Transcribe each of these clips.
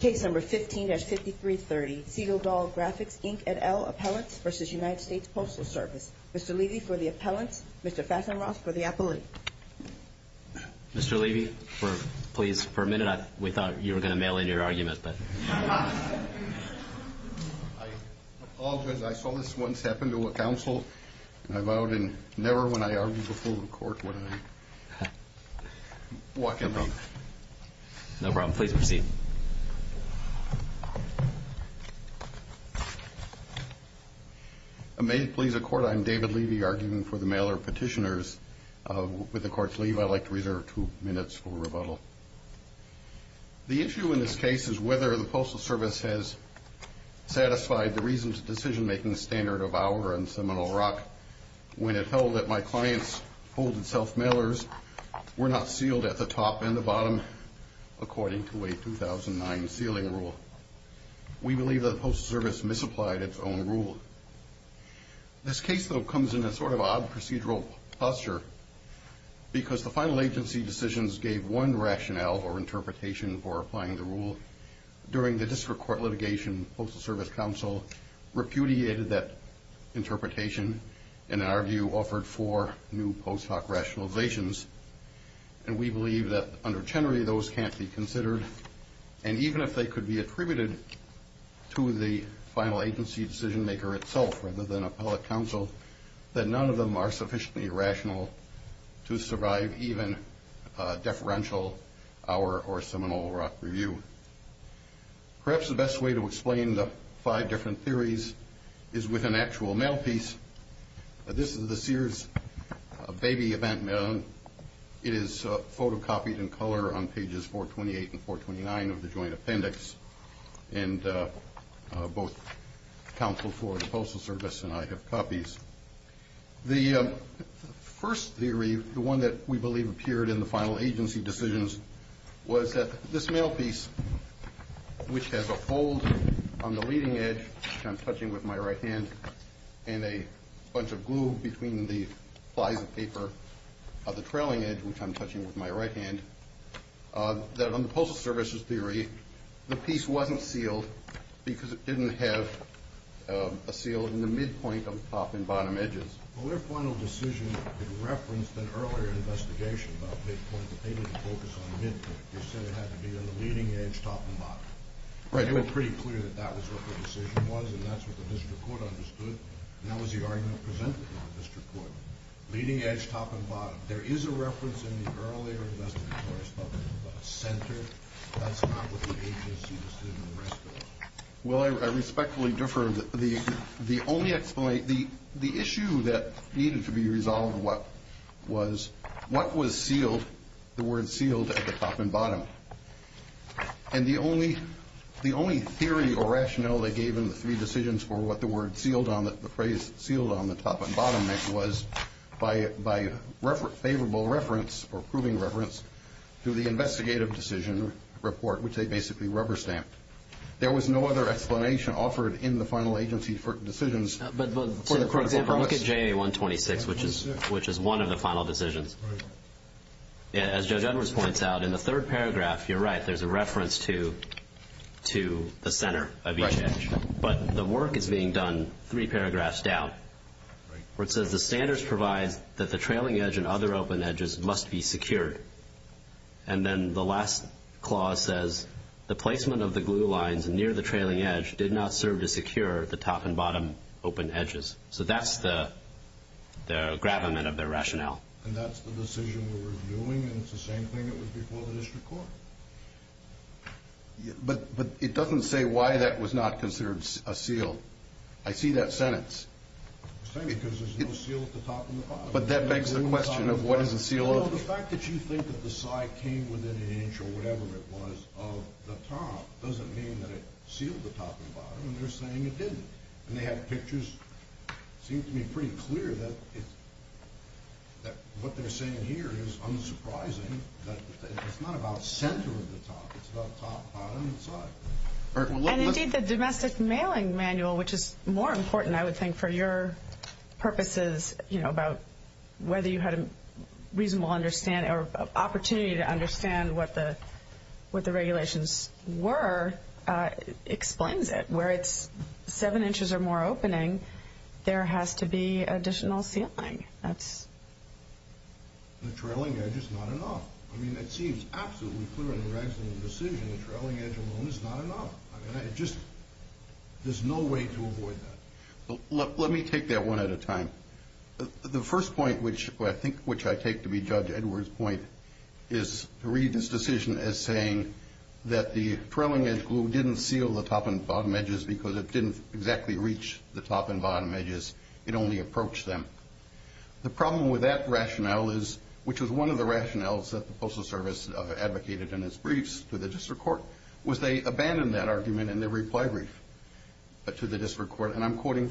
Case number 15-5330, Segerdahl Graphics, Inc. et al., Appellants v. United States Postal Service. Mr. Levy for the appellants. Mr. Fassenroth for the appellant. Mr. Levy, please, for a minute, we thought you were going to mail in your argument. I apologize. I saw this once happen to a counsel. I vowed never when I argued before the court would I walk in on it. No problem. Please proceed. May it please the Court, I'm David Levy, arguing for the mailer of petitioners. With the Court's leave, I'd like to reserve two minutes for rebuttal. The issue in this case is whether the Postal Service has satisfied the reasons of decision-making standard of our and Seminole Rock when it held that my clients' hold-itself mailers were not sealed at the top and the bottom, according to a 2009 sealing rule. We believe that the Postal Service misapplied its own rule. This case, though, comes in a sort of odd procedural posture because the final agency decisions gave one rationale or interpretation for applying the rule. During the district court litigation, the Postal Service counsel repudiated that interpretation and, in our view, offered four new post hoc rationalizations. And we believe that under Chenery, those can't be considered. And even if they could be attributed to the final agency decision-maker itself rather than appellate counsel, that none of them are sufficiently rational to survive even deferential our or Seminole Rock review. Perhaps the best way to explain the five different theories is with an actual mail piece. This is the Sears baby event mail. It is photocopied in color on pages 428 and 429 of the joint appendix. And both counsel for the Postal Service and I have copies. The first theory, the one that we believe appeared in the final agency decisions, was that this mail piece, which has a fold on the leading edge, which I'm touching with my right hand, and a bunch of glue between the flies of paper of the trailing edge, which I'm touching with my right hand, that on the Postal Service's theory, the piece wasn't sealed because it didn't have a seal in the midpoint of the top and bottom edges. Well, their final decision referenced an earlier investigation about midpoint, but they didn't focus on midpoint. They said it had to be on the leading edge, top and bottom. They were pretty clear that that was what the decision was, and that's what the district court understood, and that was the argument presented in our district court. Leading edge, top and bottom. There is a reference in the earlier investigation of a center. That's not what the agency decision and the rest of it. Well, I respectfully defer. The only explanation, the issue that needed to be resolved was what was sealed, the word sealed at the top and bottom. And the only theory or rationale they gave in the three decisions for what the word sealed on, on the top and bottom was by favorable reference or proving reference to the investigative decision report, which they basically rubber stamped. There was no other explanation offered in the final agency for decisions. For example, look at JA-126, which is one of the final decisions. As Judge Edwards points out, in the third paragraph, you're right, there's a reference to the center of each edge. But the work is being done three paragraphs down, where it says the standards provide that the trailing edge and other open edges must be secured. And then the last clause says the placement of the glue lines near the trailing edge did not serve to secure the top and bottom open edges. So that's the gravamen of their rationale. And that's the decision we were doing, and it's the same thing that was before the district court. But it doesn't say why that was not considered a seal. I see that sentence. Because there's no seal at the top and the bottom. But that begs the question of what is a seal of? The fact that you think that the side came within an inch or whatever it was of the top doesn't mean that it sealed the top and bottom, and they're saying it didn't. And they have pictures that seem to be pretty clear that what they're saying here is unsurprising. It's not about center of the top. It's about top, bottom, and side. And indeed, the domestic mailing manual, which is more important, I would think, for your purposes, about whether you had a reasonable opportunity to understand what the regulations were, explains it. Where it's seven inches or more opening, there has to be additional sealing. The trailing edge is not enough. I mean, it seems absolutely clear in the resolution of the decision the trailing edge alone is not enough. I mean, there's no way to avoid that. Let me take that one at a time. The first point, which I think I take to be Judge Edwards' point, is to read this decision as saying that the trailing edge glue didn't seal the top and bottom edges because it didn't exactly reach the top and bottom edges. It only approached them. The problem with that rationale, which was one of the rationales that the Postal Service advocated in its briefs to the district court, was they abandoned that argument in their reply brief to the district court. And I'm quoting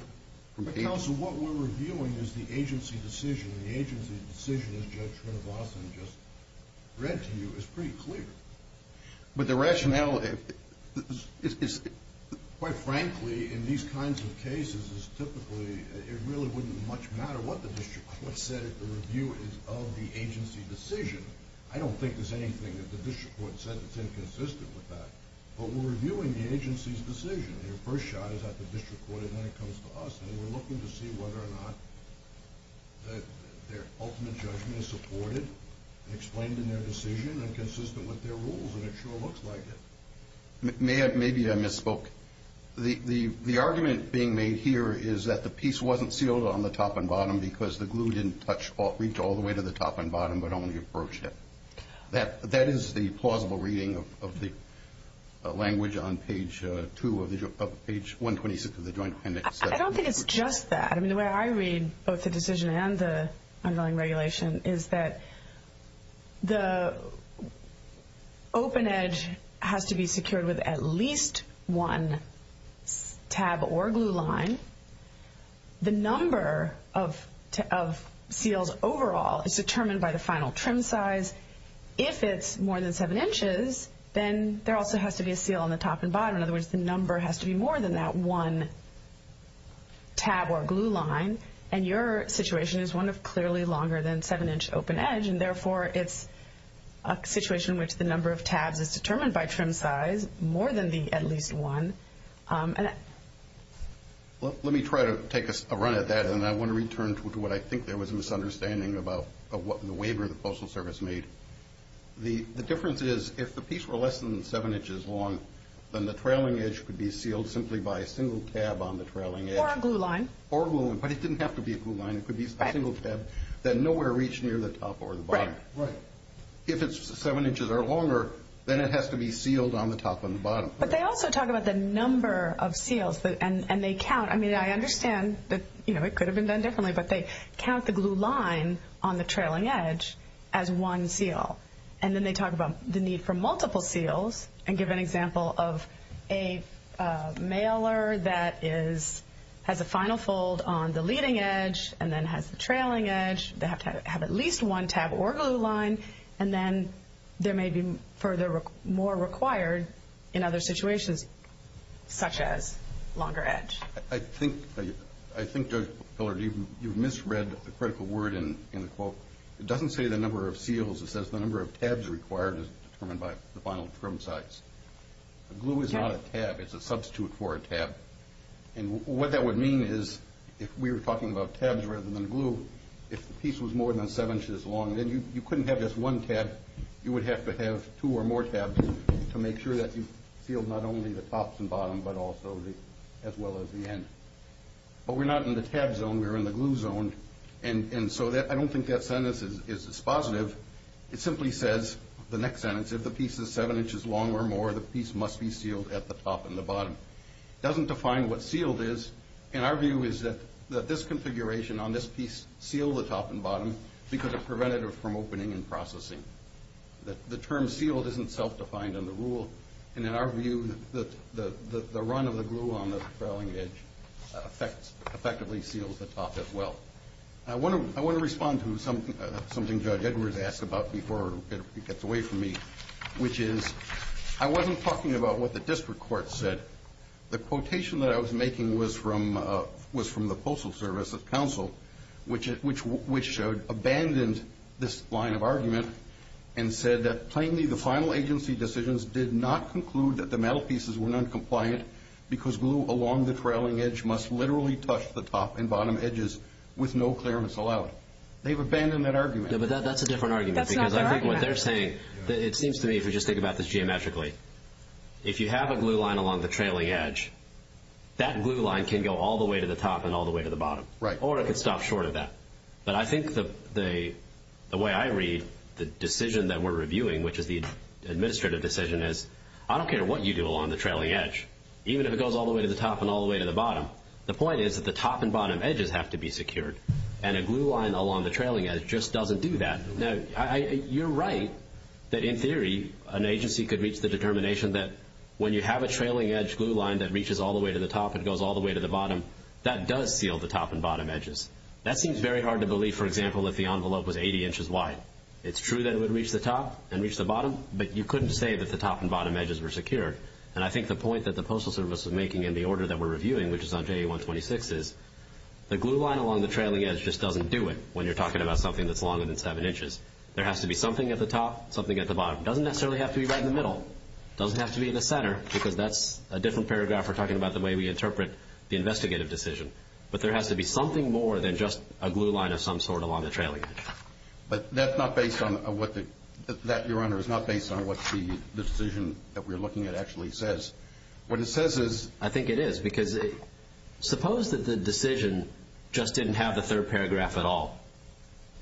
from Page. But, counsel, what we're reviewing is the agency decision. The agency decision, as Judge Trinovason just read to you, is pretty clear. But the rationale is, quite frankly, in these kinds of cases, typically it really wouldn't much matter what the district court said if the review is of the agency decision. I don't think there's anything that the district court said that's inconsistent with that. But we're reviewing the agency's decision. Their first shot is at the district court, and then it comes to us. And we're looking to see whether or not their ultimate judgment is supported, explained in their decision, and consistent with their rules. And it sure looks like it. Maybe I misspoke. The argument being made here is that the piece wasn't sealed on the top and bottom because the glue didn't reach all the way to the top and bottom but only approached it. That is the plausible reading of the language on Page 126 of the Joint Dependent's section. I don't think it's just that. I mean, the way I read both the decision and the unveiling regulation is that the open edge has to be secured with at least one tab or glue line. The number of seals overall is determined by the final trim size. If it's more than seven inches, then there also has to be a seal on the top and bottom. In other words, the number has to be more than that one tab or glue line. And your situation is one of clearly longer than seven-inch open edge, and therefore it's a situation in which the number of tabs is determined by trim size more than at least one. Let me try to take a run at that, and I want to return to what I think there was a misunderstanding about the waiver the Postal Service made. The difference is if the piece were less than seven inches long, then the trailing edge could be sealed simply by a single tab on the trailing edge. Or a glue line. Or glue, but it didn't have to be a glue line. It could be a single tab that nowhere reached near the top or the bottom. Right. If it's seven inches or longer, then it has to be sealed on the top and the bottom. But they also talk about the number of seals, and they count. I mean, I understand that it could have been done differently, but they count the glue line on the trailing edge as one seal. And then they talk about the need for multiple seals, and give an example of a mailer that has a final fold on the leading edge and then has the trailing edge. They have to have at least one tab or glue line. And then there may be more required in other situations, such as longer edge. I think, Judge Pillard, you've misread the critical word in the quote. It doesn't say the number of seals. It says the number of tabs required is determined by the final trim size. Glue is not a tab. It's a substitute for a tab. And what that would mean is if we were talking about tabs rather than glue, if the piece was more than seven inches long, then you couldn't have just one tab. You would have to have two or more tabs to make sure that you sealed not only the tops and bottom, but also as well as the end. But we're not in the tab zone. We're in the glue zone. And so I don't think that sentence is dispositive. It simply says, the next sentence, if the piece is seven inches long or more, the piece must be sealed at the top and the bottom. It doesn't define what sealed is. And our view is that this configuration on this piece sealed the top and bottom because it prevented it from opening and processing. The term sealed isn't self-defined in the rule. And in our view, the run of the glue on the trailing edge effectively seals the top as well. I want to respond to something Judge Edwards asked about before he gets away from me, which is I wasn't talking about what the district court said. The quotation that I was making was from the Postal Service of Counsel, which abandoned this line of argument and said that plainly the final agency decisions did not conclude that the metal pieces were noncompliant because glue along the trailing edge must literally touch the top and bottom edges with no clearance allowed. They've abandoned that argument. Yeah, but that's a different argument. That's not their argument. Because I think what they're saying, it seems to me, if you just think about this geometrically, if you have a glue line along the trailing edge, that glue line can go all the way to the top and all the way to the bottom. Or it could stop short of that. But I think the way I read the decision that we're reviewing, which is the administrative decision, is I don't care what you do along the trailing edge, even if it goes all the way to the top and all the way to the bottom, the point is that the top and bottom edges have to be secured. And a glue line along the trailing edge just doesn't do that. You're right that, in theory, an agency could reach the determination that when you have a trailing edge glue line that reaches all the way to the top and goes all the way to the bottom, that does seal the top and bottom edges. That seems very hard to believe, for example, if the envelope was 80 inches wide. It's true that it would reach the top and reach the bottom, but you couldn't say that the top and bottom edges were secured. And I think the point that the Postal Service was making in the order that we're reviewing, which is on JA-126, is the glue line along the trailing edge just doesn't do it when you're talking about something that's longer than 7 inches. There has to be something at the top, something at the bottom. It doesn't necessarily have to be right in the middle. It doesn't have to be in the center, because that's a different paragraph we're talking about the way we interpret the investigative decision. But there has to be something more than just a glue line of some sort along the trailing edge. But that, Your Honor, is not based on what the decision that we're looking at actually says. What it says is... I think it is, because suppose that the decision just didn't have the third paragraph at all,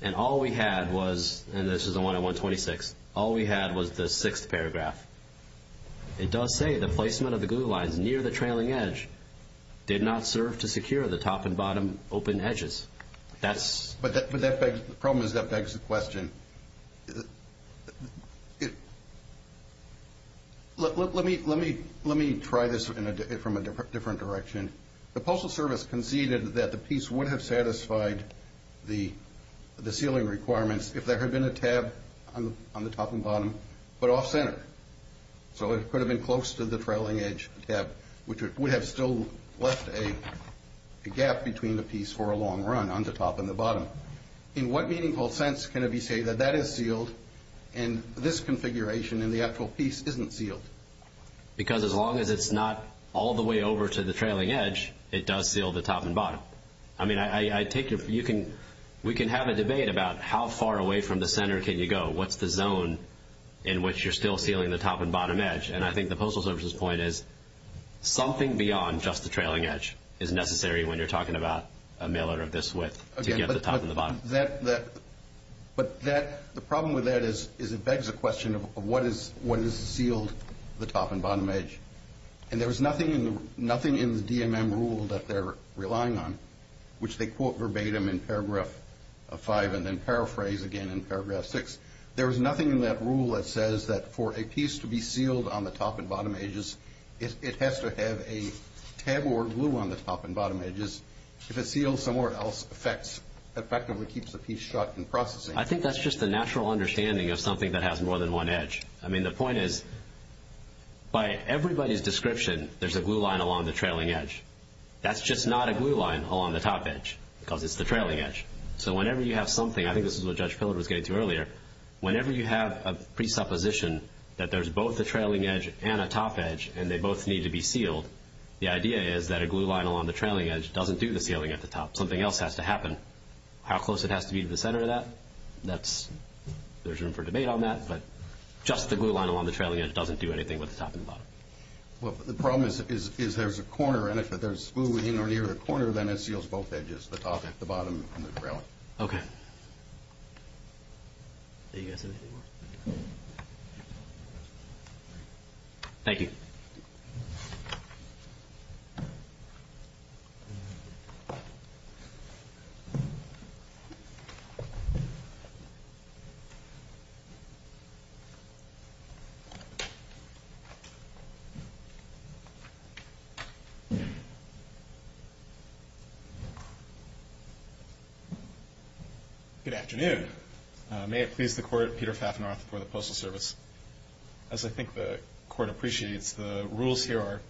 and all we had was, and this is on JA-126, all we had was the sixth paragraph. It does say the placement of the glue lines near the trailing edge did not serve to secure the top and bottom open edges. But the problem is that begs the question. Let me try this from a different direction. The Postal Service conceded that the piece would have satisfied the sealing requirements if there had been a tab on the top and bottom, but off-center. So it could have been close to the trailing edge tab, which would have still left a gap between the piece for a long run on the top and the bottom. In what meaningful sense can it be said that that is sealed and this configuration in the actual piece isn't sealed? Because as long as it's not all the way over to the trailing edge, it does seal the top and bottom. I mean, we can have a debate about how far away from the center can you go. What's the zone in which you're still sealing the top and bottom edge? And I think the Postal Service's point is something beyond just the trailing edge is necessary when you're talking about a mail order of this width to get the top and the bottom. But the problem with that is it begs the question of what is sealed, the top and bottom edge. And there is nothing in the DMM rule that they're relying on, which they quote verbatim in paragraph 5 and then paraphrase again in paragraph 6. There is nothing in that rule that says that for a piece to be sealed on the top and bottom edges, it has to have a tab or glue on the top and bottom edges. If it's sealed somewhere else, it effectively keeps the piece shut in processing. I think that's just the natural understanding of something that has more than one edge. I mean, the point is by everybody's description, there's a glue line along the trailing edge. That's just not a glue line along the top edge because it's the trailing edge. So whenever you have something, I think this is what Judge Pillard was getting to earlier, whenever you have a presupposition that there's both a trailing edge and a top edge and they both need to be sealed, the idea is that a glue line along the trailing edge doesn't do the sealing at the top. Something else has to happen. How close it has to be to the center of that, there's room for debate on that, but just the glue line along the trailing edge doesn't do anything with the top and bottom. Well, the problem is there's a corner, and if there's glue in or near the corner, then it seals both edges, the top, the bottom, and the trailing. Okay. Thank you. Good afternoon. May it please the Court, Peter Fafnorth for the Postal Service. As I think the Court appreciates, the rules here are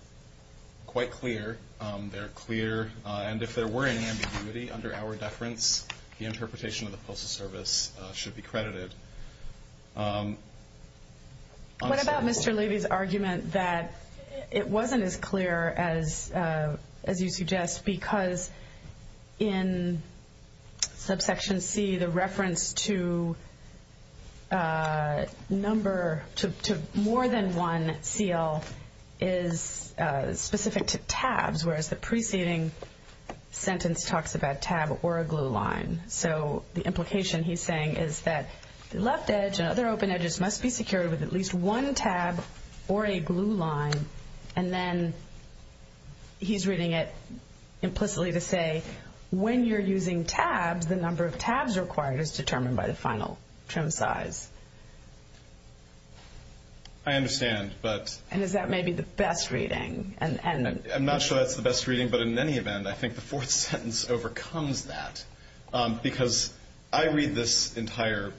quite clear. They're clear, and if there were any ambiguity under our deference, the interpretation of the Postal Service should be credited. What about Mr. Levy's argument that it wasn't as clear as you suggest because in subsection C, the reference to more than one seal is specific to tabs, whereas the preceding sentence talks about a tab or a glue line. So the implication he's saying is that the left edge and other open edges must be secured with at least one tab or a glue line, and then he's reading it implicitly to say when you're using tabs, the number of tabs required is determined by the final trim size. I understand. And is that maybe the best reading? I'm not sure that's the best reading, but in any event, I think the fourth sentence overcomes that because I read this entire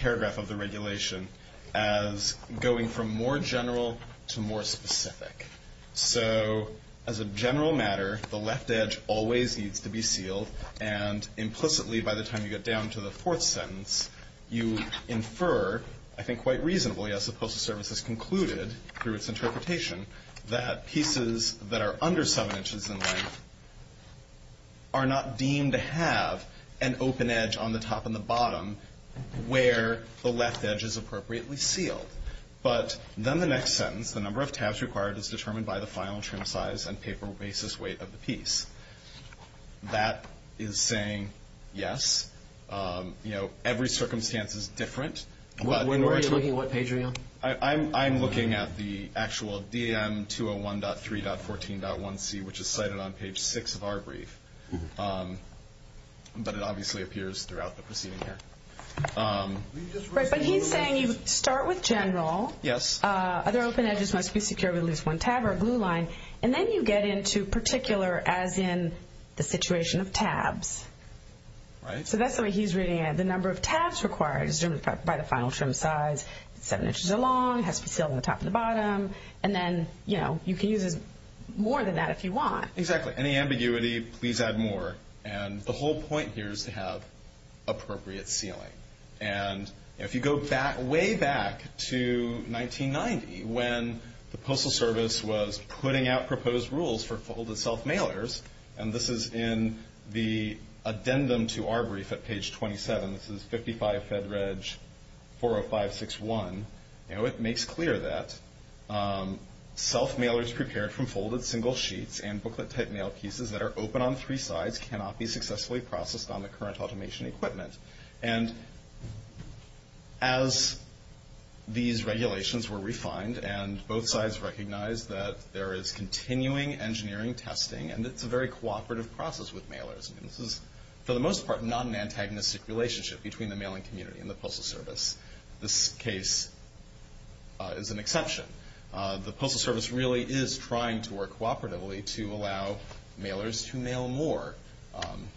paragraph of the regulation as going from more general to more specific. So as a general matter, the left edge always needs to be sealed, and implicitly by the time you get down to the fourth sentence, you infer, I think quite reasonably, as the Postal Service has concluded through its interpretation, that pieces that are under 7 inches in length are not deemed to have an open edge on the top and the bottom where the left edge is appropriately sealed. But then the next sentence, the number of tabs required is determined by the final trim size and paper basis weight of the piece. That is saying yes. You know, every circumstance is different. What page are you on? I'm looking at the actual D.A.M. 201.3.14.1c, which is cited on page 6 of our brief, but it obviously appears throughout the proceeding here. But he's saying you start with general. Yes. Other open edges must be secured with at least one tab or glue line, and then you get into particular as in the situation of tabs. Right. So that's the way he's reading it. The number of tabs required is determined by the final trim size. It's 7 inches long. It has to be sealed on the top and the bottom. And then, you know, you can use more than that if you want. Exactly. Any ambiguity, please add more. And the whole point here is to have appropriate sealing. And if you go way back to 1990 when the Postal Service was putting out proposed rules for folded self-mailers, and this is in the addendum to our brief at page 27, this is 55 Fed Reg 40561. You know, it makes clear that self-mailers prepared from folded single sheets and booklet-type mail pieces that are open on three sides cannot be successfully processed on the current automation equipment. And as these regulations were refined and both sides recognized that there is continuing engineering testing and it's a very cooperative process with mailers. This is, for the most part, not an antagonistic relationship between the mailing community and the Postal Service. This case is an exception. The Postal Service really is trying to work cooperatively to allow mailers to mail more.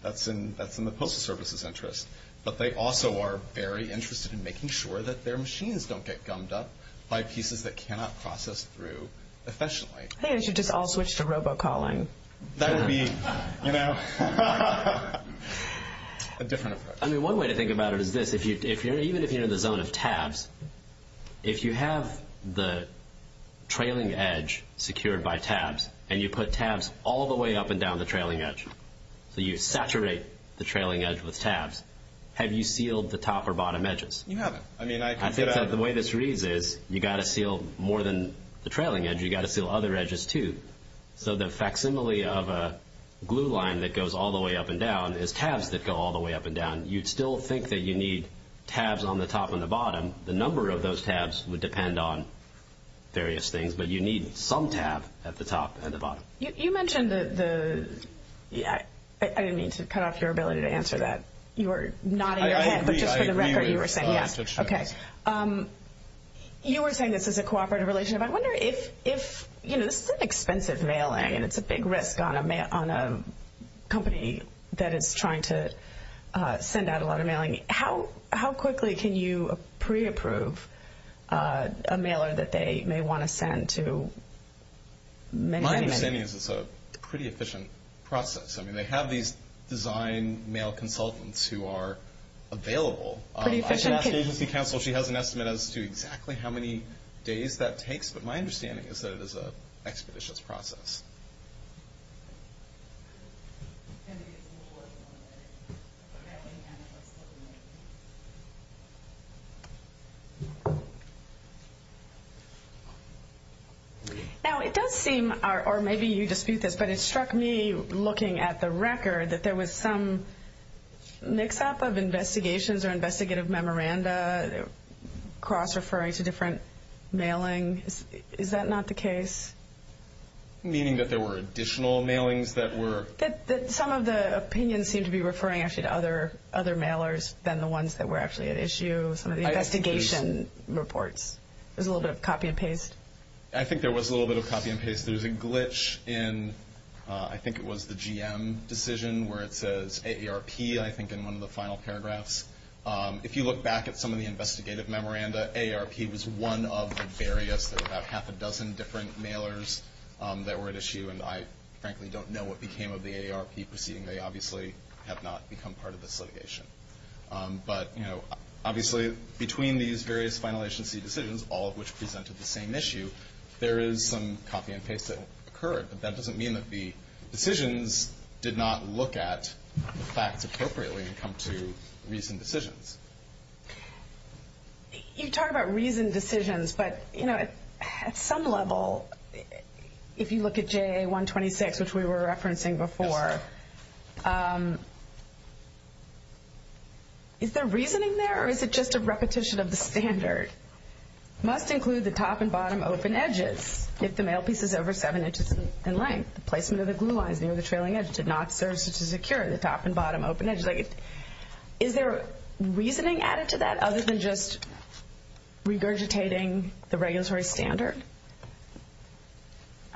That's in the Postal Service's interest. But they also are very interested in making sure that their machines don't get gummed up by pieces that cannot process through efficiently. I think they should just all switch to robocalling. That would be, you know, a different approach. I mean, one way to think about it is this. Even if you're in the zone of tabs, if you have the trailing edge secured by tabs and you put tabs all the way up and down the trailing edge, so you saturate the trailing edge with tabs, have you sealed the top or bottom edges? You haven't. I think that the way this reads is you've got to seal more than the trailing edge. You've got to seal other edges, too. So the facsimile of a glue line that goes all the way up and down is tabs that go all the way up and down. You'd still think that you need tabs on the top and the bottom. The number of those tabs would depend on various things. But you need some tab at the top and the bottom. You mentioned the – I didn't mean to cut off your ability to answer that. You were nodding your head. But just for the record, you were saying yes. Okay. You were saying this is a cooperative relationship. I wonder if – you know, this is expensive mailing, and it's a big risk on a company that is trying to send out a lot of mailing. How quickly can you pre-approve a mailer that they may want to send to many, many – My understanding is it's a pretty efficient process. I mean, they have these design mail consultants who are available. I should ask agency counsel. She has an estimate as to exactly how many days that takes. But my understanding is that it is an expeditious process. Now, it does seem – or maybe you dispute this, but it struck me looking at the record that there was some mix-up of investigations or investigative memoranda, cross-referring to different mailing. Is that not the case? Meaning that there were additional mailings that were – That some of the opinions seem to be referring actually to other mailers than the ones that were actually at issue, some of the investigation reports. There's a little bit of copy and paste. I think there was a little bit of copy and paste. There's a glitch in – I think it was the GM decision where it says AARP, I think, in one of the final paragraphs. If you look back at some of the investigative memoranda, I think that AARP was one of the various – there were about half a dozen different mailers that were at issue, and I frankly don't know what became of the AARP proceeding. They obviously have not become part of this litigation. But, you know, obviously between these various final agency decisions, all of which presented the same issue, there is some copy and paste that occurred. But that doesn't mean that the decisions did not look at the facts appropriately and come to reasoned decisions. You talk about reasoned decisions, but, you know, at some level, if you look at JA-126, which we were referencing before, is there reasoning there or is it just a repetition of the standard? Must include the top and bottom open edges if the mail piece is over 7 inches in length. The placement of the glue lines near the trailing edge did not serve to secure the top and bottom open edges. Is there reasoning added to that other than just regurgitating the regulatory standard?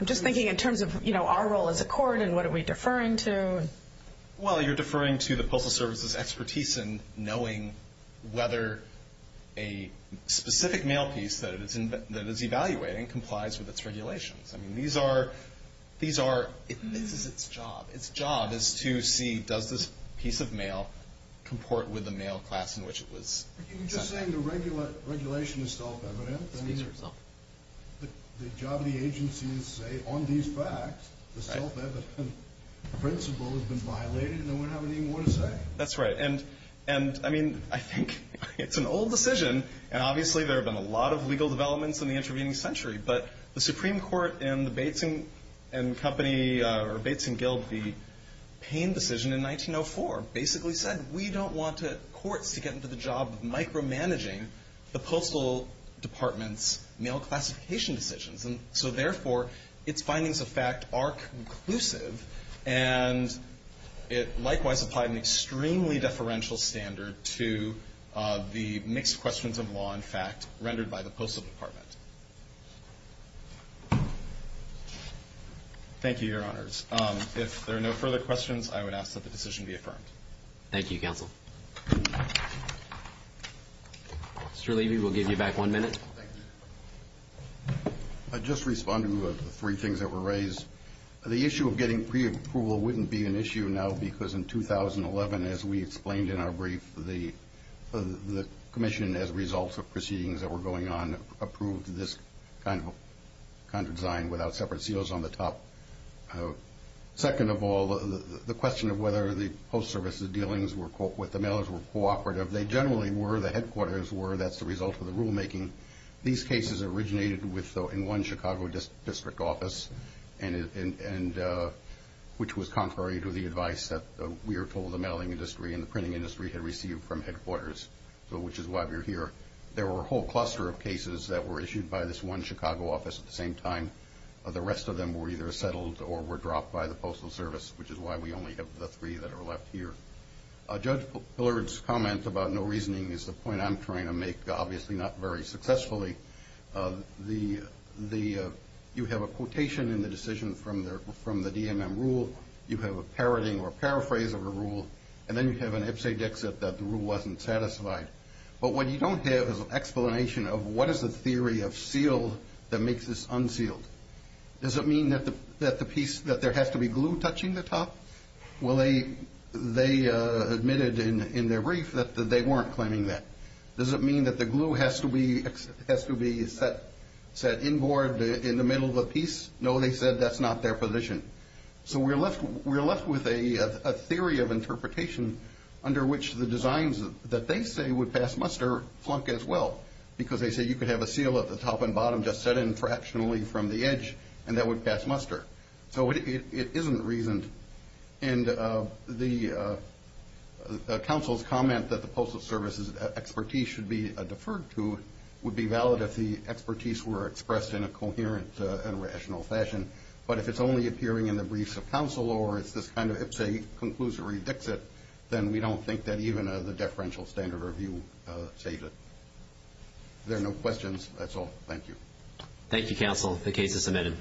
I'm just thinking in terms of, you know, our role as a court and what are we deferring to. Well, you're deferring to the Postal Service's expertise in knowing whether a specific mail piece that it is evaluating complies with its regulations. I mean, these are – this is its job. Its job is to see does this piece of mail comport with the mail class in which it was sent back. You're just saying the regulation is self-evident. I mean, the job of the agency is to say, on these facts, the self-evident principle has been violated and we don't have anything more to say. That's right. And, I mean, I think it's an old decision, and obviously there have been a lot of legal developments in the intervening century, but the Supreme Court in the Bates & Guild v. Payne decision in 1904 basically said, we don't want courts to get into the job of micromanaging the Postal Department's mail classification decisions. And so, therefore, its findings of fact are conclusive, and it likewise applied an extremely deferential standard to the mixed questions of law and fact rendered by the Postal Department. Thank you, Your Honors. If there are no further questions, I would ask that the decision be affirmed. Thank you, Counsel. Mr. Levy, we'll give you back one minute. I'd just respond to the three things that were raised. The issue of getting pre-approval wouldn't be an issue now because in 2011, as we explained in our brief, the commission, as a result of proceedings that were going on, approved this kind of design without separate seals on the top. Second of all, the question of whether the Postal Service's dealings with the mailers were cooperative. They generally were. The headquarters were. That's the result of the rulemaking. These cases originated in one Chicago district office, which was contrary to the advice that we are told the mailing industry and the printing industry had received from headquarters, which is why we're here. There were a whole cluster of cases that were issued by this one Chicago office at the same time. The rest of them were either settled or were dropped by the Postal Service, which is why we only have the three that are left here. Judge Pillard's comment about no reasoning is the point I'm trying to make, obviously not very successfully. You have a quotation in the decision from the DMM rule. You have a parodying or a paraphrase of a rule, and then you have an ipse dexit that the rule wasn't satisfied. But what you don't have is an explanation of what is the theory of seal that makes this unsealed. Does it mean that there has to be glue touching the top? Well, they admitted in their brief that they weren't claiming that. Does it mean that the glue has to be set inboard in the middle of a piece? No, they said that's not their position. So we're left with a theory of interpretation under which the designs that they say would pass muster flunk as well because they say you could have a seal at the top and bottom just set in fractionally from the edge and that would pass muster. So it isn't reasoned. And the counsel's comment that the Postal Service's expertise should be deferred to would be valid if the expertise were expressed in a coherent and rational fashion. But if it's only appearing in the briefs of counsel or it's a conclusory exit, then we don't think that even the deferential standard review saves it. There are no questions. That's all. Thank you. Thank you, counsel. The case is submitted.